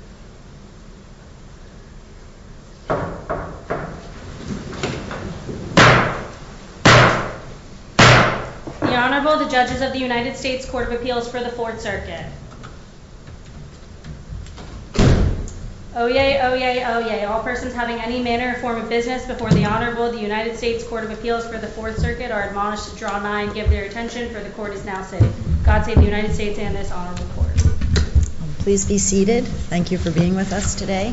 The Honorable, the Judges of the United States Court of Appeals for the Fourth Circuit. Oyez, oyez, oyez, all persons having any manner or form of business before the Honorable of the United States Court of Appeals for the Fourth Circuit are admonished to draw nine, give their attention, for the court is now sitting. God save the United States and this Honorable Court. Please be seated. Thank you for being with us today.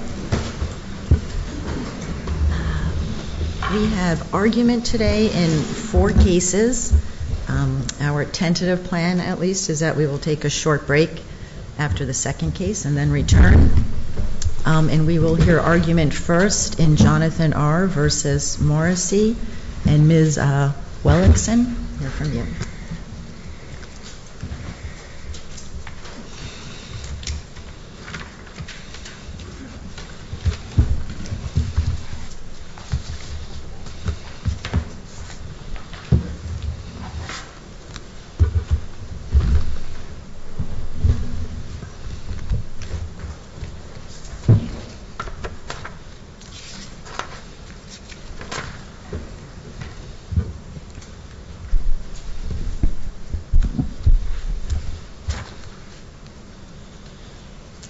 We have argument today in four cases. Our tentative plan, at least, is that we will take a short break after the second case and then return. And we will hear argument first in Jonathan R. v. Morrisey and Ms. Wellickson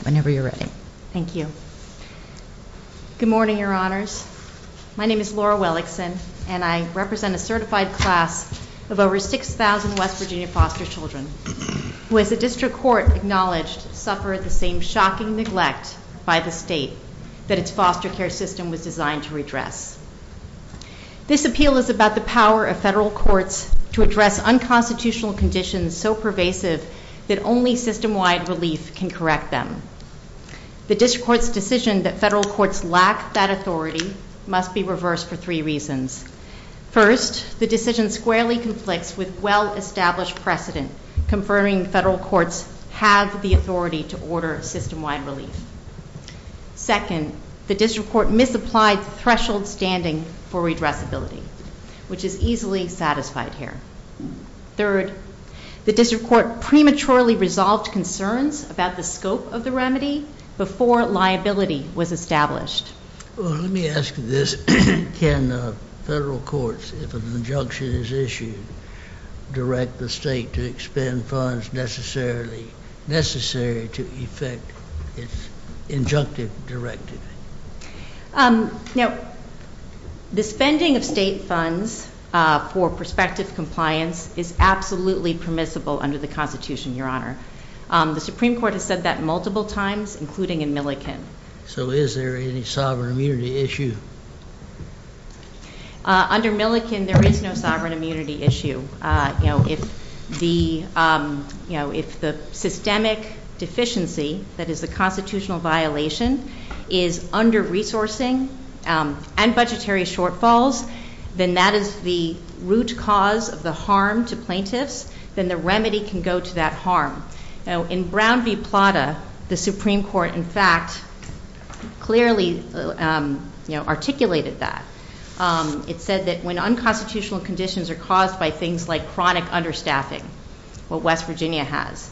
Whenever you're ready. Thank you. Good morning, Your Honors. My name is Laura Wellickson, and I represent a certified class of over 6,000 West Virginia foster children, who, as the District Court acknowledged, suffer the same shocking neglect by the State that its foster care system was designed to redress. This appeal is about the power of federal courts to address unconstitutional conditions so pervasive that only system-wide relief can correct them. The District Court's decision that federal courts lack that authority must be reversed for three reasons. First, the decision squarely conflicts with well-established precedent confirming federal courts have the authority to order system-wide relief. Second, the District Court misapplied threshold standing for redressability, which is easily satisfied here. Third, the District Court prematurely resolved concerns about the scope of the remedy before liability was established. Well, let me ask this. Can federal courts, if an injunction is issued, direct the State to expend funds necessary to effect its injunctive directive? Now, the spending of State funds for prospective compliance is absolutely permissible under the Constitution, Your Honor. The Supreme Court has said that multiple times, including in Millikin. So is there any sovereign immunity issue? Under Millikin, there is no sovereign immunity issue. You know, if the, you know, if the systemic deficiency that is the constitutional violation is under-resourcing and budgetary shortfalls, then that is the root cause of the harm to plaintiffs, then the remedy can go to that harm. Now, in Brown v. Plata, the Supreme Court, in fact, clearly, you know, articulated that. It said that when unconstitutional conditions are caused by things like chronic understaffing, what West Virginia has,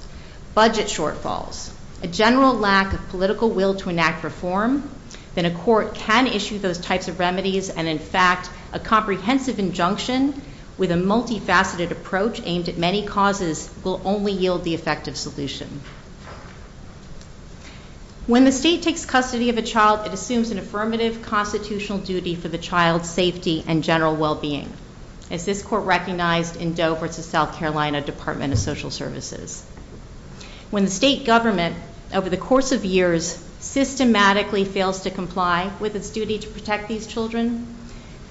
budget shortfalls, a general lack of political will to enact reform, then a court can issue those types of remedies and, in fact, a comprehensive injunction with a multifaceted approach aimed at many causes will only yield the effective solution. When the State takes custody of a child, it assumes an affirmative constitutional duty for the child's safety and general well-being, as this Court recognized in Doe v. South Carolina Department of Social Services. When the State government, over the course of years, systematically fails to comply with its duty to protect these children,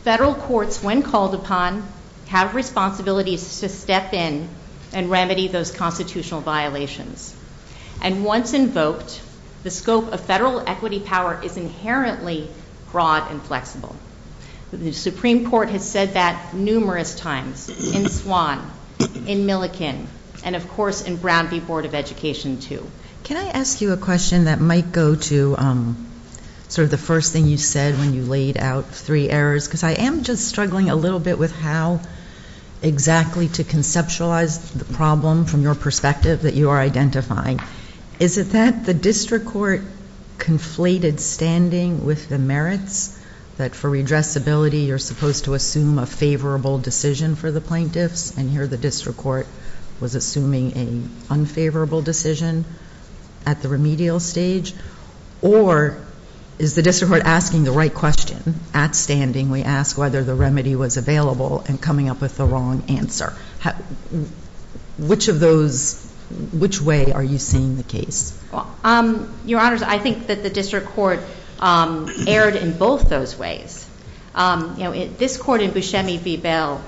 federal courts, when called upon, have responsibilities to step in and remedy those constitutional violations. And once invoked, the scope of federal equity power is inherently broad and flexible. The Supreme Court has said that numerous times in Swann, in Millikin, and, of course, in Brown v. Board of Education, too. Can I ask you a question that might go to sort of the first thing you said when you laid out three errors? Because I am just struggling a little bit with how exactly to conceptualize the problem from your perspective that you are identifying. Is it that the district court conflated standing with the merits, that for redressability, you're supposed to assume a favorable decision for the plaintiffs, and here the district court was assuming an unfavorable decision at the remedial stage? Or is the district court asking the right question? At standing, we ask whether the remedy was available and coming up with the wrong answer. Which of those, which way are you seeing the case? Well, Your Honors, I think that the district court erred in both those ways. You know, this Court in Buscemi v. Bell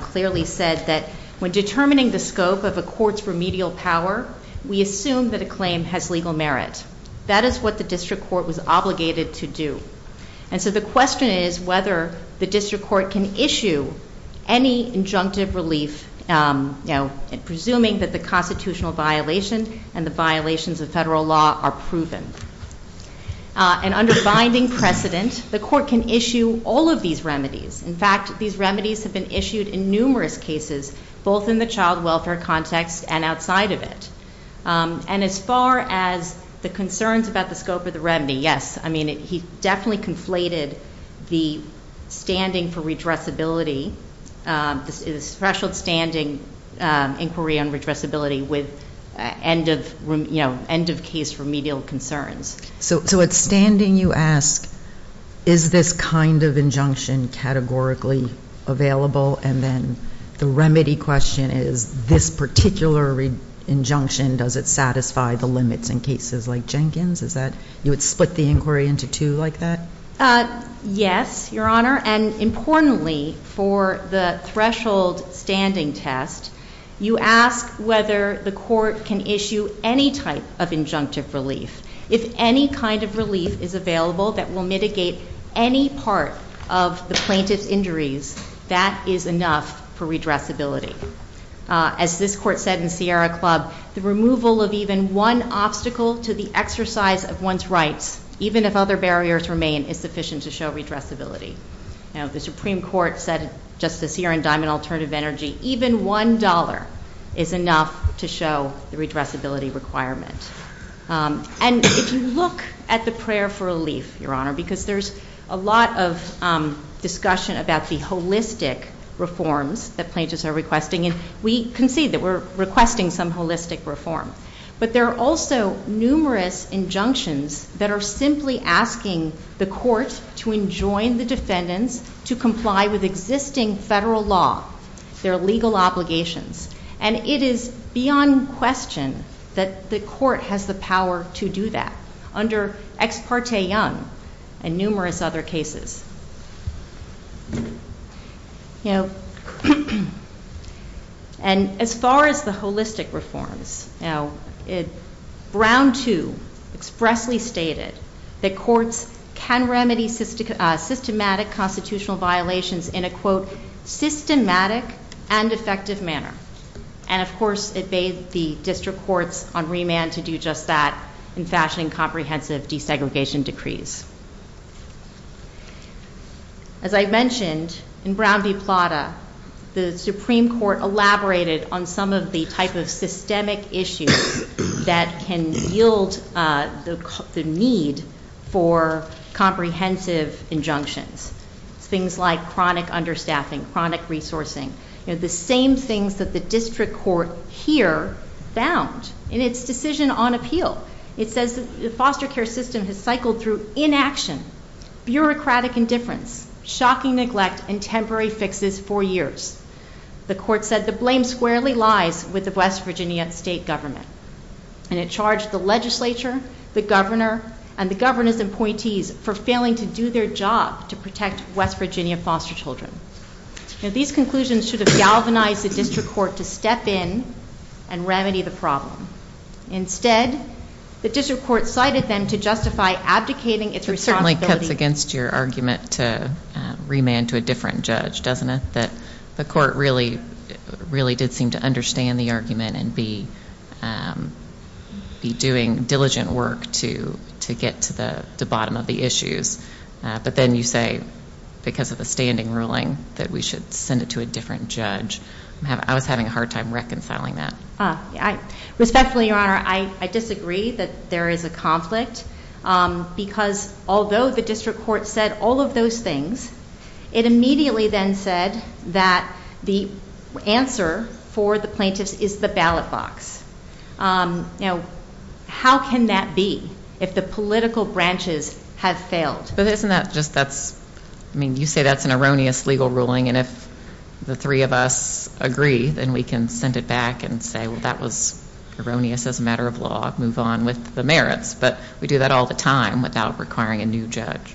clearly said that when determining the scope of a court's remedial power, we assume that a claim has legal merit. That is what the district court was obligated to do. And so the question is whether the district court can issue any injunctive relief, you know, presuming that the constitutional violation and the violations of federal law are proven. And under binding precedent, the court can issue all of these remedies. In fact, these remedies have been issued in numerous cases, both in the child welfare context and outside of it. And as far as the concerns about the scope of the remedy, yes. I mean, he definitely conflated the standing for redressability, the special standing inquiry on redressability with end of, you know, end of case remedial concerns. So at standing, you ask, is this kind of injunction categorically available? And then the remedy question is, this particular injunction, does it satisfy the limits in cases like Jenkins? Is that, you would split the inquiry into two like that? Yes, Your Honor. And importantly for the threshold standing test, you ask whether the court can issue any type of injunctive relief. If any kind of relief is available that will mitigate any part of the plaintiff's injuries, that is enough for redressability. As this court said in Sierra Club, the removal of even one obstacle to the exercise of one's rights, even if other barriers remain, is sufficient to show redressability. Now, the Supreme Court said just this year in Diamond Alternative Energy, even one dollar is enough to show the redressability requirement. And if you look at the prayer for relief, Your Honor, because there's a lot of discussion about the holistic reforms that plaintiffs are requesting. And we concede that we're requesting some holistic reform. But there are also numerous injunctions that are simply asking the court to enjoin the defendants to comply with existing federal law, their legal obligations. And it is beyond question that the court has the power to do that under Ex Parte Young and numerous other cases. You know, and as far as the holistic reforms, you know, Brown too expressly stated that courts can remedy systematic constitutional violations in a quote, systematic and effective manner. And of course it bade the district courts on remand to do just that in fashioning comprehensive desegregation decrees. As I mentioned, in Brown v. Plata, the Supreme Court elaborated on some of the type of systemic issues that can yield the need for comprehensive injunctions. Things like chronic understaffing, chronic resourcing. You know, the same things that the district court here found in its decision on appeal. It says the foster care system has cycled through inaction, bureaucratic indifference, shocking neglect and temporary fixes for years. The court said the blame squarely lies with the West Virginia state government. And it charged the legislature, the governor and the governor's appointees for failing to do their job to protect West Virginia foster children. Now these conclusions should have galvanized the district court to step in and remedy the problem. Instead, the district court cited them to justify abdicating its responsibility. It certainly cuts against your argument to remand to a different judge, doesn't it? That the court really did seem to understand the argument and be doing diligent work to get to the bottom of the issues. But then you say because of the standing ruling that we should send it to a different judge. I was having a hard time reconciling that. Respectfully, Your Honor, I disagree that there is a conflict because although the district court said all of those things, it immediately then said that the answer for the plaintiffs is the ballot box. Now how can that be if the political branches have failed? But isn't that just that's, I mean, you say that's an erroneous legal ruling and if the three of us agree, then we can send it back and say, well, that was erroneous as a matter of law. Move on with the merits. But we do that all the time without requiring a new judge.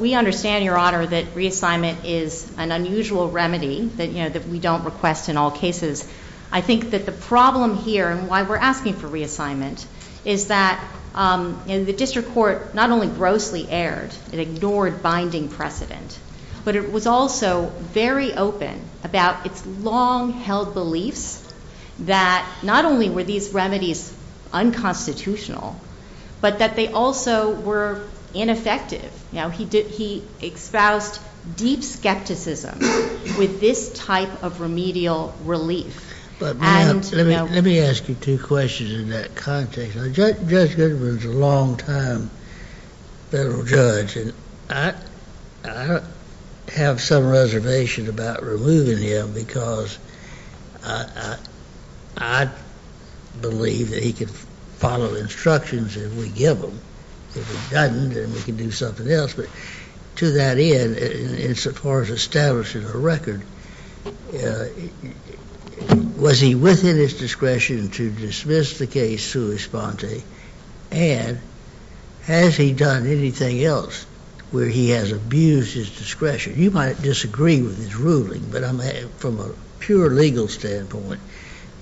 We understand, Your Honor, that reassignment is an unusual remedy that we don't request in all cases. I think that the problem here and why we're asking for reassignment is that the district court not only grossly erred, it ignored binding precedent, but it was also very open about its long-held beliefs that not only were these remedies unconstitutional, but that they also were ineffective. You know, he espoused deep skepticism with this type of remedial relief. But let me ask you two questions in that context. Judge Goodwin's a long-time federal judge and I have some reservation about removing him because I believe that he could follow instructions if we give them. If he doesn't, then we can do something else. But to that end, in so far as establishing a record, was he within his discretion to dismiss the case sui sponte? And has he done anything else where he has abused his discretion? You might disagree with his ruling, but from a pure legal standpoint,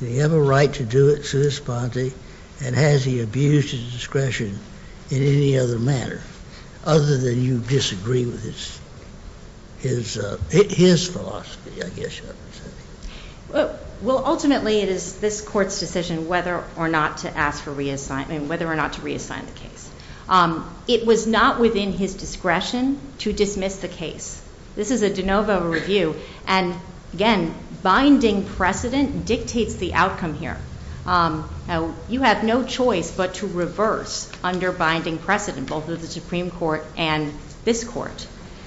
do you have a right to do it sui sponte? And has he abused his discretion in any other manner other than you disagree with his philosophy, I guess you might say? Well, ultimately, it is this court's decision whether or not to ask for reassignment, whether or not to reassign the case. It was not within his discretion to dismiss the case. This is a de novo review and again, binding precedent dictates the outcome here. You have no choice but to reverse under binding precedent, both of the Supreme Court and this court.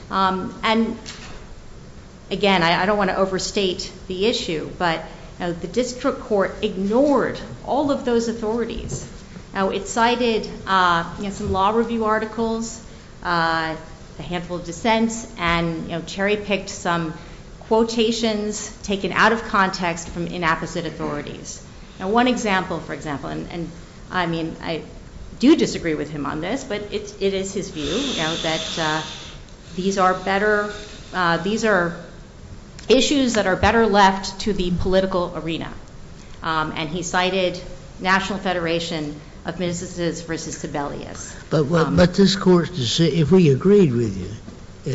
And again, I don't want to overstate the issue, but the district court ignored all of those authorities. It cited some law review articles, a handful of dissents, and cherry-picked some quotations taken out of context from inapposite authorities. Now, one example, for example, and I mean, I do disagree with him on this, but it is his view that these are better, these are issues that are better left to the political arena. And he cited National Federation of Ministers versus Sebelius. But this court, if we agreed with you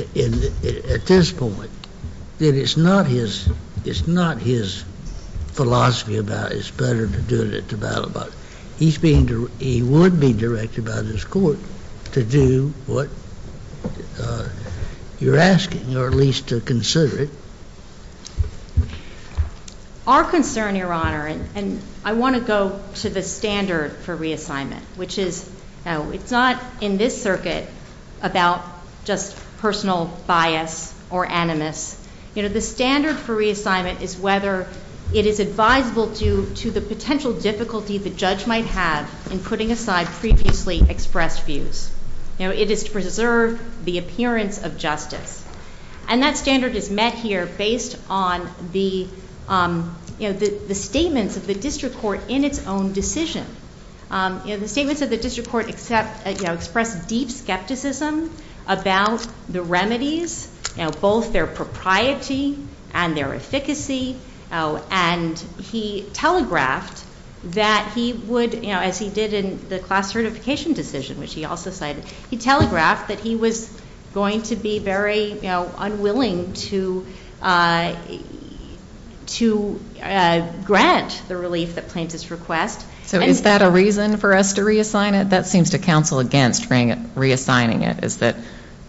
at this point, that it's not his philosophy about it's better to do it at the battle, but he's being, he would be directed by this court to do what you're asking, or at least to consider it. Our concern, Your Honor, and I want to go to the standard for reassignment, which is, it's not in this circuit about just personal bias or animus. You know, the standard for reassignment is whether it is advisable due to the potential difficulty the judge might have in putting aside previously expressed views. You know, it is to preserve the appearance of justice. And that standard is met here based on the, you know, the statements of the district court in its own decision. You know, the statements of the district court except, you know, express deep skepticism about the remedies, you know, both their propriety and their efficacy. And he telegraphed that he would, you know, as he did in the class certification decision, which he also cited, he telegraphed that he was going to be very, you know, unwilling to grant the relief that claims his request. So is that a reason for us to reassign it? That seems to counsel against reassigning it is that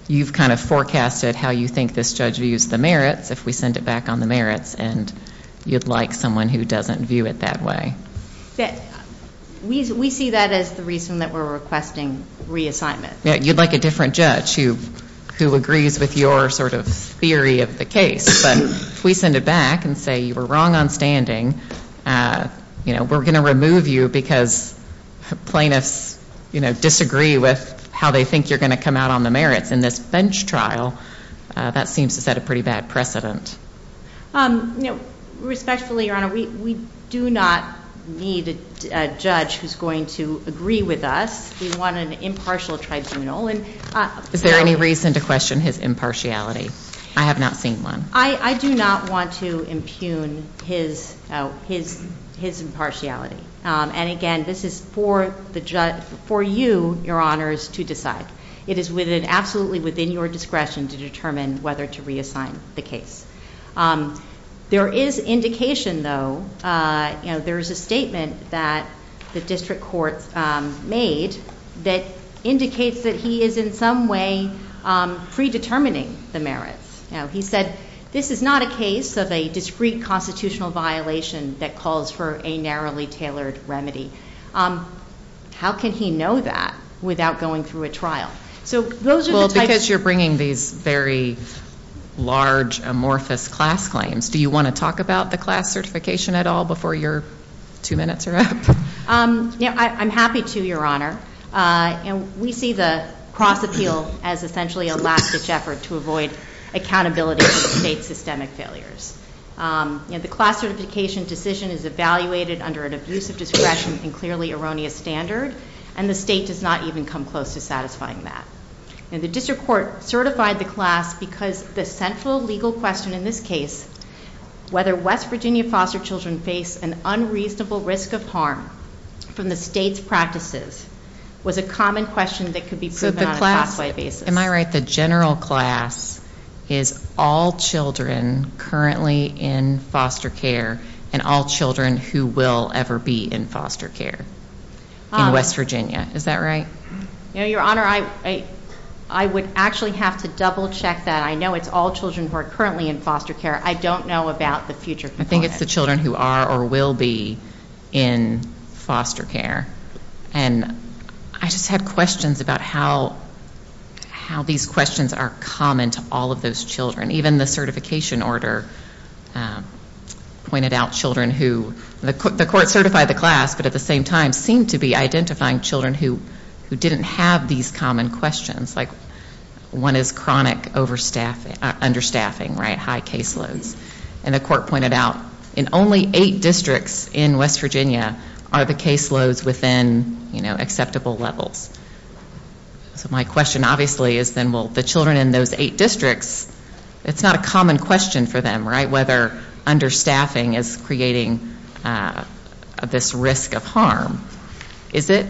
you've kind of forecasted how you think this judge views the merits if we send it back on the merits, and you'd like someone who doesn't view it that way. We see that as the reason that we're requesting reassignment. You'd like a different judge who agrees with your sort of theory of the case. But if we send it back and say you were wrong on standing, you know, we're going to remove you because plaintiffs, you know, disagree with how they think you're going to come out on the merits in this bench trial, that seems to set a pretty bad precedent. You know, respectfully, Your Honor, we do not need a judge who's going to agree with us. We want an impartial tribunal. Is there any reason to question his impartiality? I have not seen one. I do not want to impugn his impartiality. And again, this is for you, Your Honors, to decide. It is absolutely within your discretion to determine whether to reassign the case. There is indication, though, you know, there's a statement that the district court made that indicates that he is in some way predetermining the merits. You know, he said this is not a case of a discreet constitutional violation that calls for a narrowly tailored remedy. How can he know that without going through a trial? So those are the types of... Well, because you're bringing these very large, amorphous class claims, do you want to talk about the class certification at all before your two minutes are up? I'm happy to, Your Honor. We see the cross-appeal as essentially a last-ditch effort to avoid accountability for the state's systemic failures. The class certification decision is evaluated under an abusive discretion and clearly erroneous standard, and the state does not even come close to satisfying that. The district court certified the class because the central legal question in this case, whether West Virginia foster children face an unreasonable risk of harm from the state's practices, was a common question that could be proven on a class-wide basis. Am I right? The general class is all children currently in foster care and all children who will ever be in foster care in West Virginia. Is that right? You know, Your Honor, I would actually have to double-check that. I know it's all children who are currently in foster care. I don't know about the future. I think it's the children who are or will be in foster care. And I just have questions about how these questions are common to all of those children. Even the certification order pointed out children who the court certified the class, but at the same time seemed to be identifying children who didn't have these common questions, like one is chronic understaffing right, high caseloads. And the court pointed out in only eight districts in West Virginia are the caseloads within, you know, acceptable levels. So my question, obviously, is then will the children in those eight districts, it's not a common question for them, right, whether understaffing is creating this risk of harm. Is it?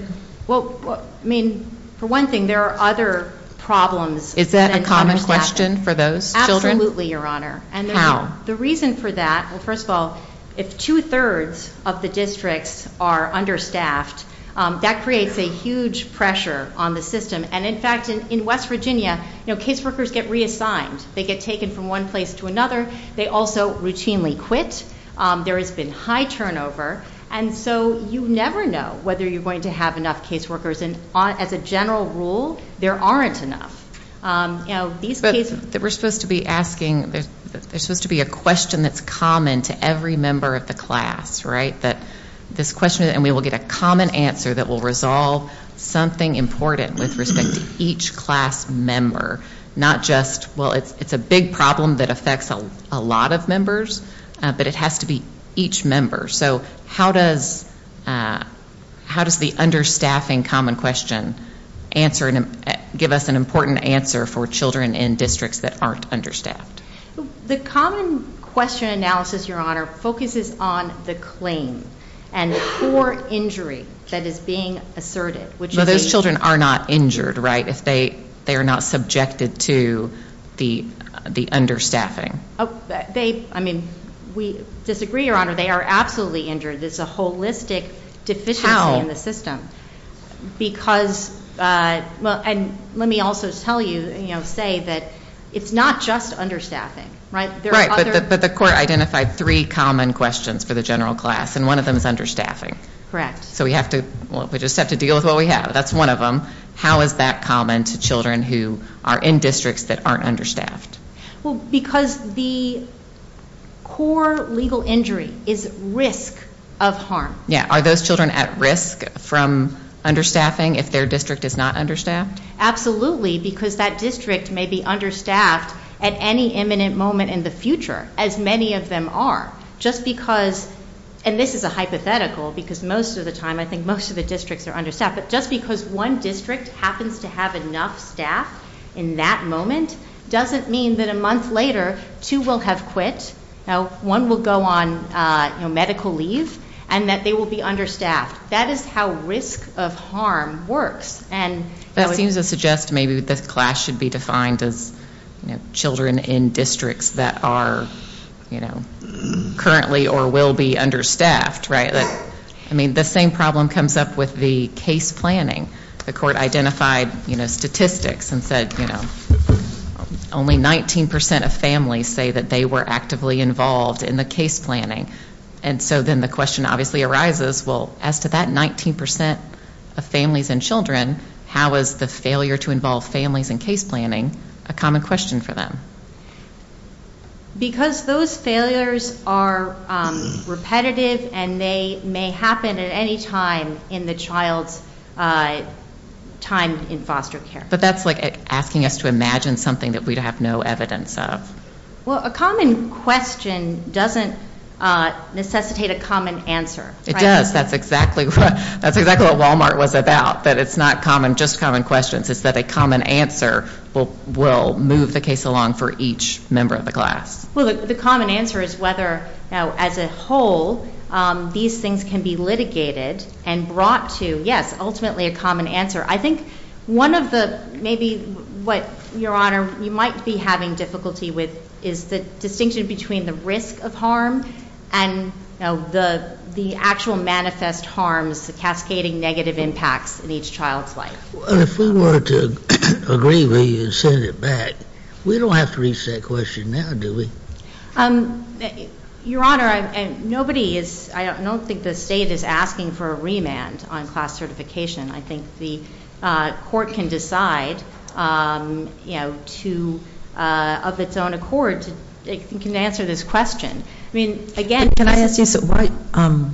Well, I mean, for one thing, there are other problems. Is that a common question for those children? Absolutely, Your Honor. How? The reason for that, well, first of all, if two-thirds of the districts are understaffed, that creates a huge pressure on the system. And in fact, in West Virginia, you know, caseworkers get reassigned. They get taken from one place to another. They also routinely quit. There has been high turnover. And so you never know whether you're going to have enough caseworkers. And as a general rule, there aren't enough. You know, these cases that we're supposed to be asking, there's supposed to be a question that's common to every member of the class, right, that this question, and we will get a common answer that will resolve something important with respect to each class member, not just, well, it's a big problem that affects a lot of members, but it has to be each member. So how does the understaffing common question answer and give us an important answer for children in districts that aren't understaffed? The common question analysis, Your Honor, focuses on the claim and poor injury that is being asserted, which is a... But those children are not injured, right, if they are not subjected to the understaffing? They, I mean, we disagree, Your Honor. They are absolutely injured. There's a holistic deficiency in the system. Because, well, and let me also tell you, you know, say that it's not just understaffing, right? There are other... Right, but the court identified three common questions for the general class, and one of them is understaffing. Correct. So we have to, well, we just have to deal with what we have. That's one of them. How is that common to children who are in districts that aren't understaffed? Well, because the core legal injury is risk of harm. Yeah, are those children at risk from understaffing if their district is not understaffed? Absolutely, because that district may be understaffed at any imminent moment in the future, as many of them are. Just because, and this is a hypothetical, because most of the time I think most of the districts are understaffed, but just because one district happens to have enough staff in that moment doesn't mean that a month later two will have quit. Now, one will go on medical leave, and that they will be understaffed. That is how risk of harm works, and... That seems to suggest maybe the class should be defined as children in districts that are currently or will be understaffed, right? I mean, the same problem comes up with the case planning. The court identified statistics and said, you know, only 19% of families say that they were actively involved in the case planning, and so then the question obviously arises, well, as to that 19% of families and children, how is the failure to involve families in case planning a common question for them? Because those failures are repetitive, and they may happen at any time in the child's time in foster care. But that's like asking us to imagine something that we'd have no evidence of. Well, a common question doesn't necessitate a common answer, right? It does. That's exactly what Walmart was about, that it's not just common questions. It's that a common answer will move the case along for each member of the class. The common answer is whether, as a whole, these things can be litigated and brought to, yes, ultimately a common answer. I think one of the, maybe what, Your Honor, you might be having difficulty with is the distinction between the risk of harm and, you know, the actual manifest harms, the cascading negative impacts in each child's life. Well, if we were to agree with you and send it back, we don't have to reach that question now, do we? Your Honor, nobody is, I don't think the state is asking for a remand on class certification. I think the court can decide, you know, to, of its own accord, it can answer this question. I mean, again, Can I ask you a question?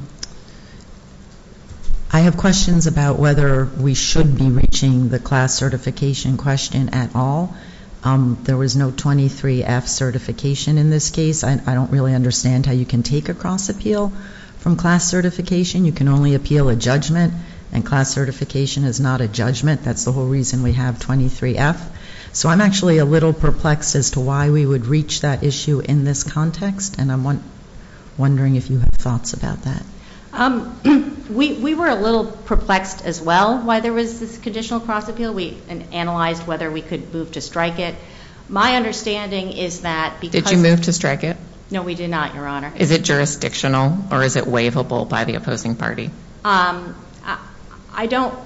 I have questions about whether we should be reaching the class certification question at all. There was no 23F certification in this case. I don't really understand how you can take a cross-appeal from class certification. You can only appeal a judgment, and class certification is not a judgment. That's the whole reason we have 23F. So I'm actually a little perplexed as to why we would reach that issue in this context, and I'm wondering if you have thoughts about that. We were a little perplexed as well, why there was this conditional cross-appeal. We analyzed whether we could move to strike it. My understanding is that because Did you move to strike it? No, we did not, Your Honor. Is it jurisdictional, or is it waivable by the opposing party? I don't,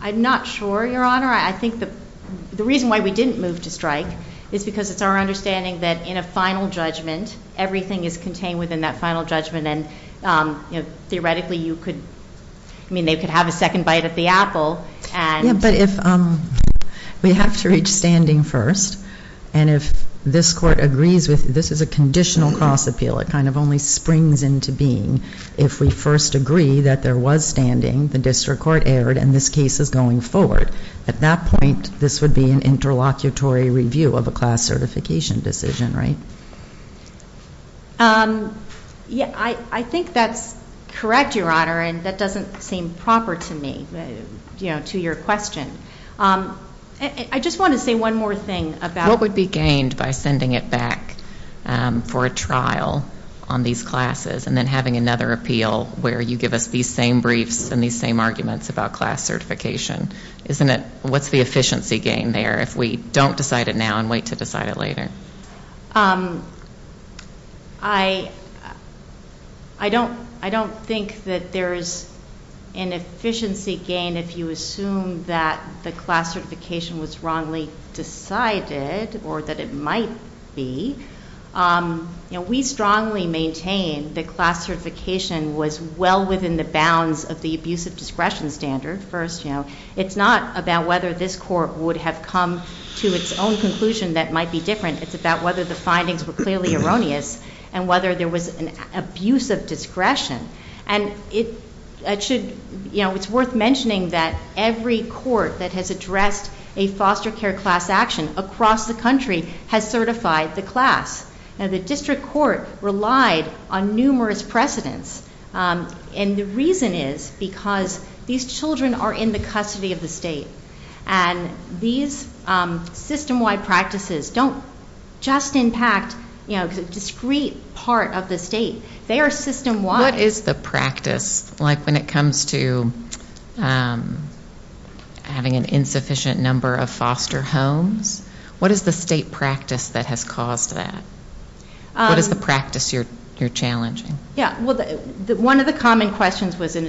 I'm not sure, Your Honor. I think the reason why we didn't move to strike is because it's our understanding that in a final judgment, everything is contained within that final judgment, and theoretically you could, I mean, they could have a second bite at the apple, and Yeah, but if we have to reach standing first, and if this Court agrees with this is a conditional cross-appeal, it kind of only springs into being if we first agree that there was standing, the district court erred, and this case is going forward. At that point, this would be an interlocutory review of a class certification decision, right? I think that's correct, Your Honor, and that doesn't seem proper to me, to your question. I just want to say one more thing about What would be gained by sending it back for a trial on these classes, and then having another appeal where you give us these same briefs and these same arguments about class certification? Isn't it, what's the efficiency gain there if we don't decide it now and wait to decide it later? I don't, I don't think that there is an efficiency gain if you assume that the class certification was wrongly decided, or that it might be. We strongly maintain that class certification was well within the bounds of the abuse of discretion standard. First, it's not about whether this Court would have come to its own conclusion that might be different. It's about whether the findings were clearly erroneous, and whether there was an abuse of discretion. And it should, you know, it's worth mentioning that every court that has addressed a foster care class action across the country has certified the class. Now, the District Court relied on numerous precedents, and the reason is because these children are in the custody of the State, and these system-wide practices don't just impact, you know, a discrete part of the State. They are system-wide. What is the practice, like when it comes to having an insufficient number of foster homes? What is the State practice that has caused that? What is the practice you're challenging? Yeah, well, one of the common questions was an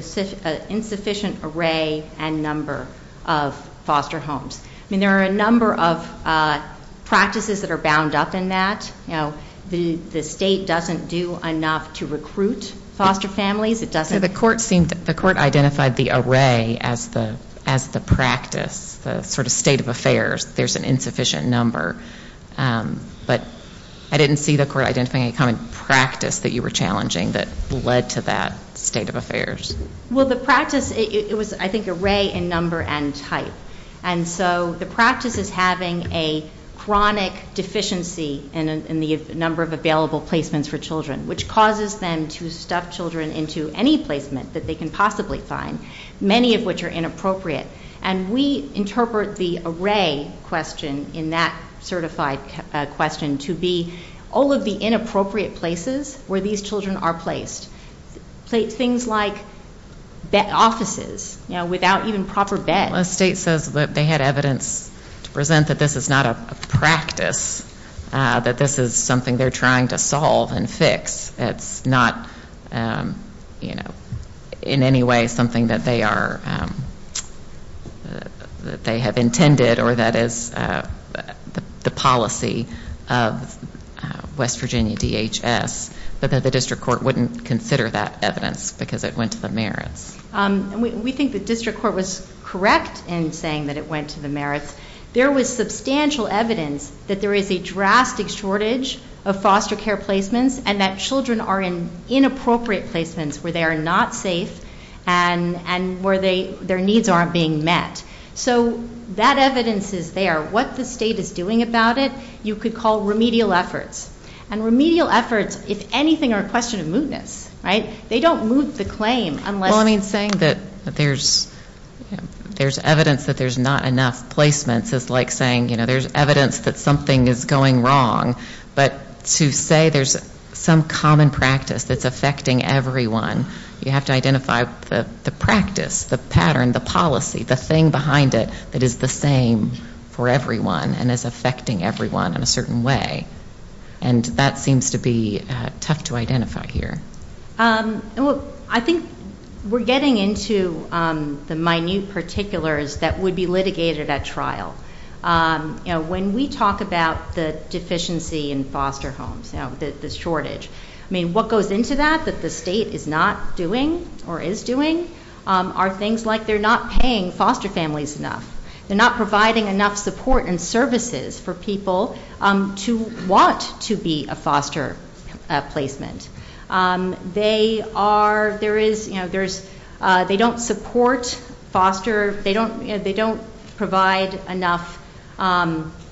insufficient array and number of foster homes. I mean, there are a number of practices that are bound up in that. You know, the State doesn't do enough to recruit foster families. It doesn't... So the Court seemed, the Court identified the array as the practice, the sort of state of affairs, there's an insufficient number. But I didn't see the Court identifying a common practice that you were challenging that led to that state of affairs. Well, the practice, it was, I think, array and number and type. And so the practice is having a chronic deficiency in the number of available placements for children, which causes them to stuff children into any placement that they can possibly find, many of which are inappropriate. And we interpret the array question in that certified question to be all of the inappropriate places where these children are placed. Things like offices, you know, without even proper beds. Well, the State says that they had evidence to present that this is not a practice, that this is something they're trying to solve and fix. It's not, you know, in any way something that they are, that they have intended or that is the policy of West Virginia DHS, but that the District Court wouldn't consider that evidence because it went to the merits. We think the District Court was correct in saying that it went to the merits. There was substantial evidence that there is a drastic shortage of foster care placements and that children are in inappropriate placements where they are not safe and where their needs aren't being met. So that evidence is there. What the State is doing about it, you could call remedial efforts. And remedial efforts, if anything, are a question of mootness, right? They don't moot the claim unless. Well, I mean, saying that there's evidence that there's not enough placements is like saying, you know, there's evidence that something is going wrong. But to say there's some common practice that's affecting everyone, you have to identify the practice, the pattern, the policy, the thing behind it that is the same for everyone and is affecting everyone in a certain way. And that seems to be tough to identify here. I think we're getting into the minute particulars that would be litigated at trial. You know, when we talk about the deficiency in foster homes, you know, the shortage, I mean, what goes into that that the State is not doing or is doing are things like they're not paying foster families enough. They're not providing enough support and services for people to want to be a foster placement. They are, there is, you know, there's, they don't support foster, they don't, you know, they don't provide enough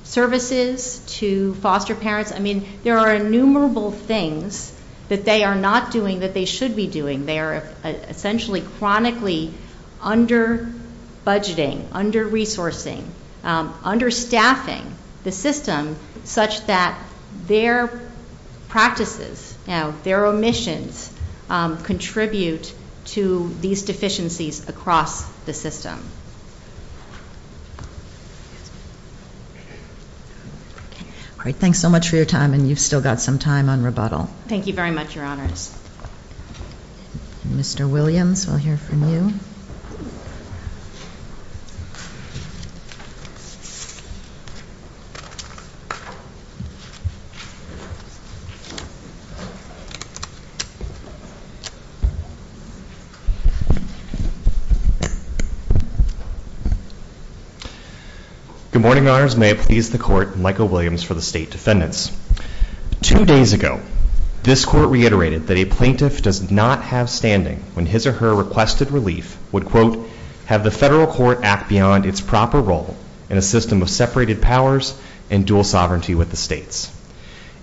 services to foster parents. I mean, there are innumerable things that they are not doing that they should be doing. They are essentially chronically under budgeting, under resourcing, under staffing the system such that their practices, you know, their omissions contribute to these deficiencies across the system. All right, thanks so much for your time and you've still got some time on rebuttal. Thank you very much, Your Honors. Mr. Williams, we'll hear from you. Good morning, Your Honors. May it please the Court, Michael Williams for the State Defendants. Two days ago, this Court reiterated that a plaintiff does not have standing when his or her requested relief would, quote, have the Federal Court act beyond its proper role in a system of separated powers and dual sovereignty with the States.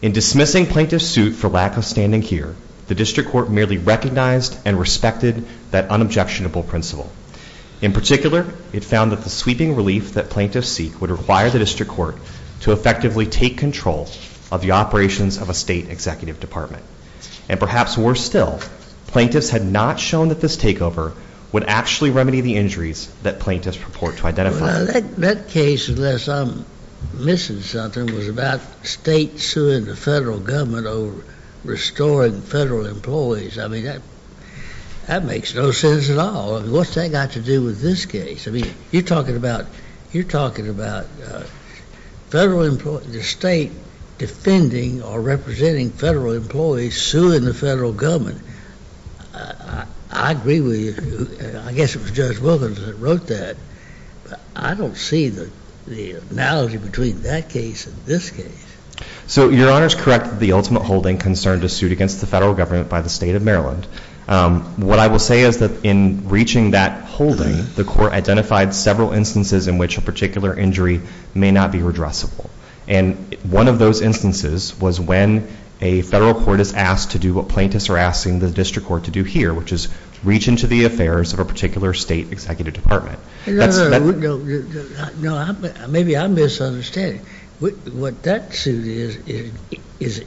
In dismissing plaintiff's suit for lack of standing here, the District Court merely recognized and respected that unobjectionable principle. In particular, it found that the sweeping relief that plaintiffs seek would require the District Court to effectively take control of the operations of a State Executive Department. And perhaps worse still, plaintiffs had not shown that this takeover would actually remedy the injuries that plaintiffs purport to identify. Well, that case, unless I'm missing something, was about the State suing the Federal Government over restoring Federal employees. I mean, that makes no sense at all. What's that got to do with this case? I mean, you're talking about the State defending or representing Federal employees suing the Federal Government. I agree with you. I guess it was Judge Wilkins that wrote that. But I don't see the analogy between that case and this case. So your Honor's correct that the ultimate holding concerned a suit against the Federal Government by the State of Maryland. What I will say is that in reaching that holding, the Court identified several instances in which a particular injury may not be redressable. And one of those instances was when a Federal Court is asked to do what plaintiffs are asking the District Court to do here, which is reach into the affairs of a particular State Executive Department. No, no, no. Maybe I'm misunderstanding. What that suit is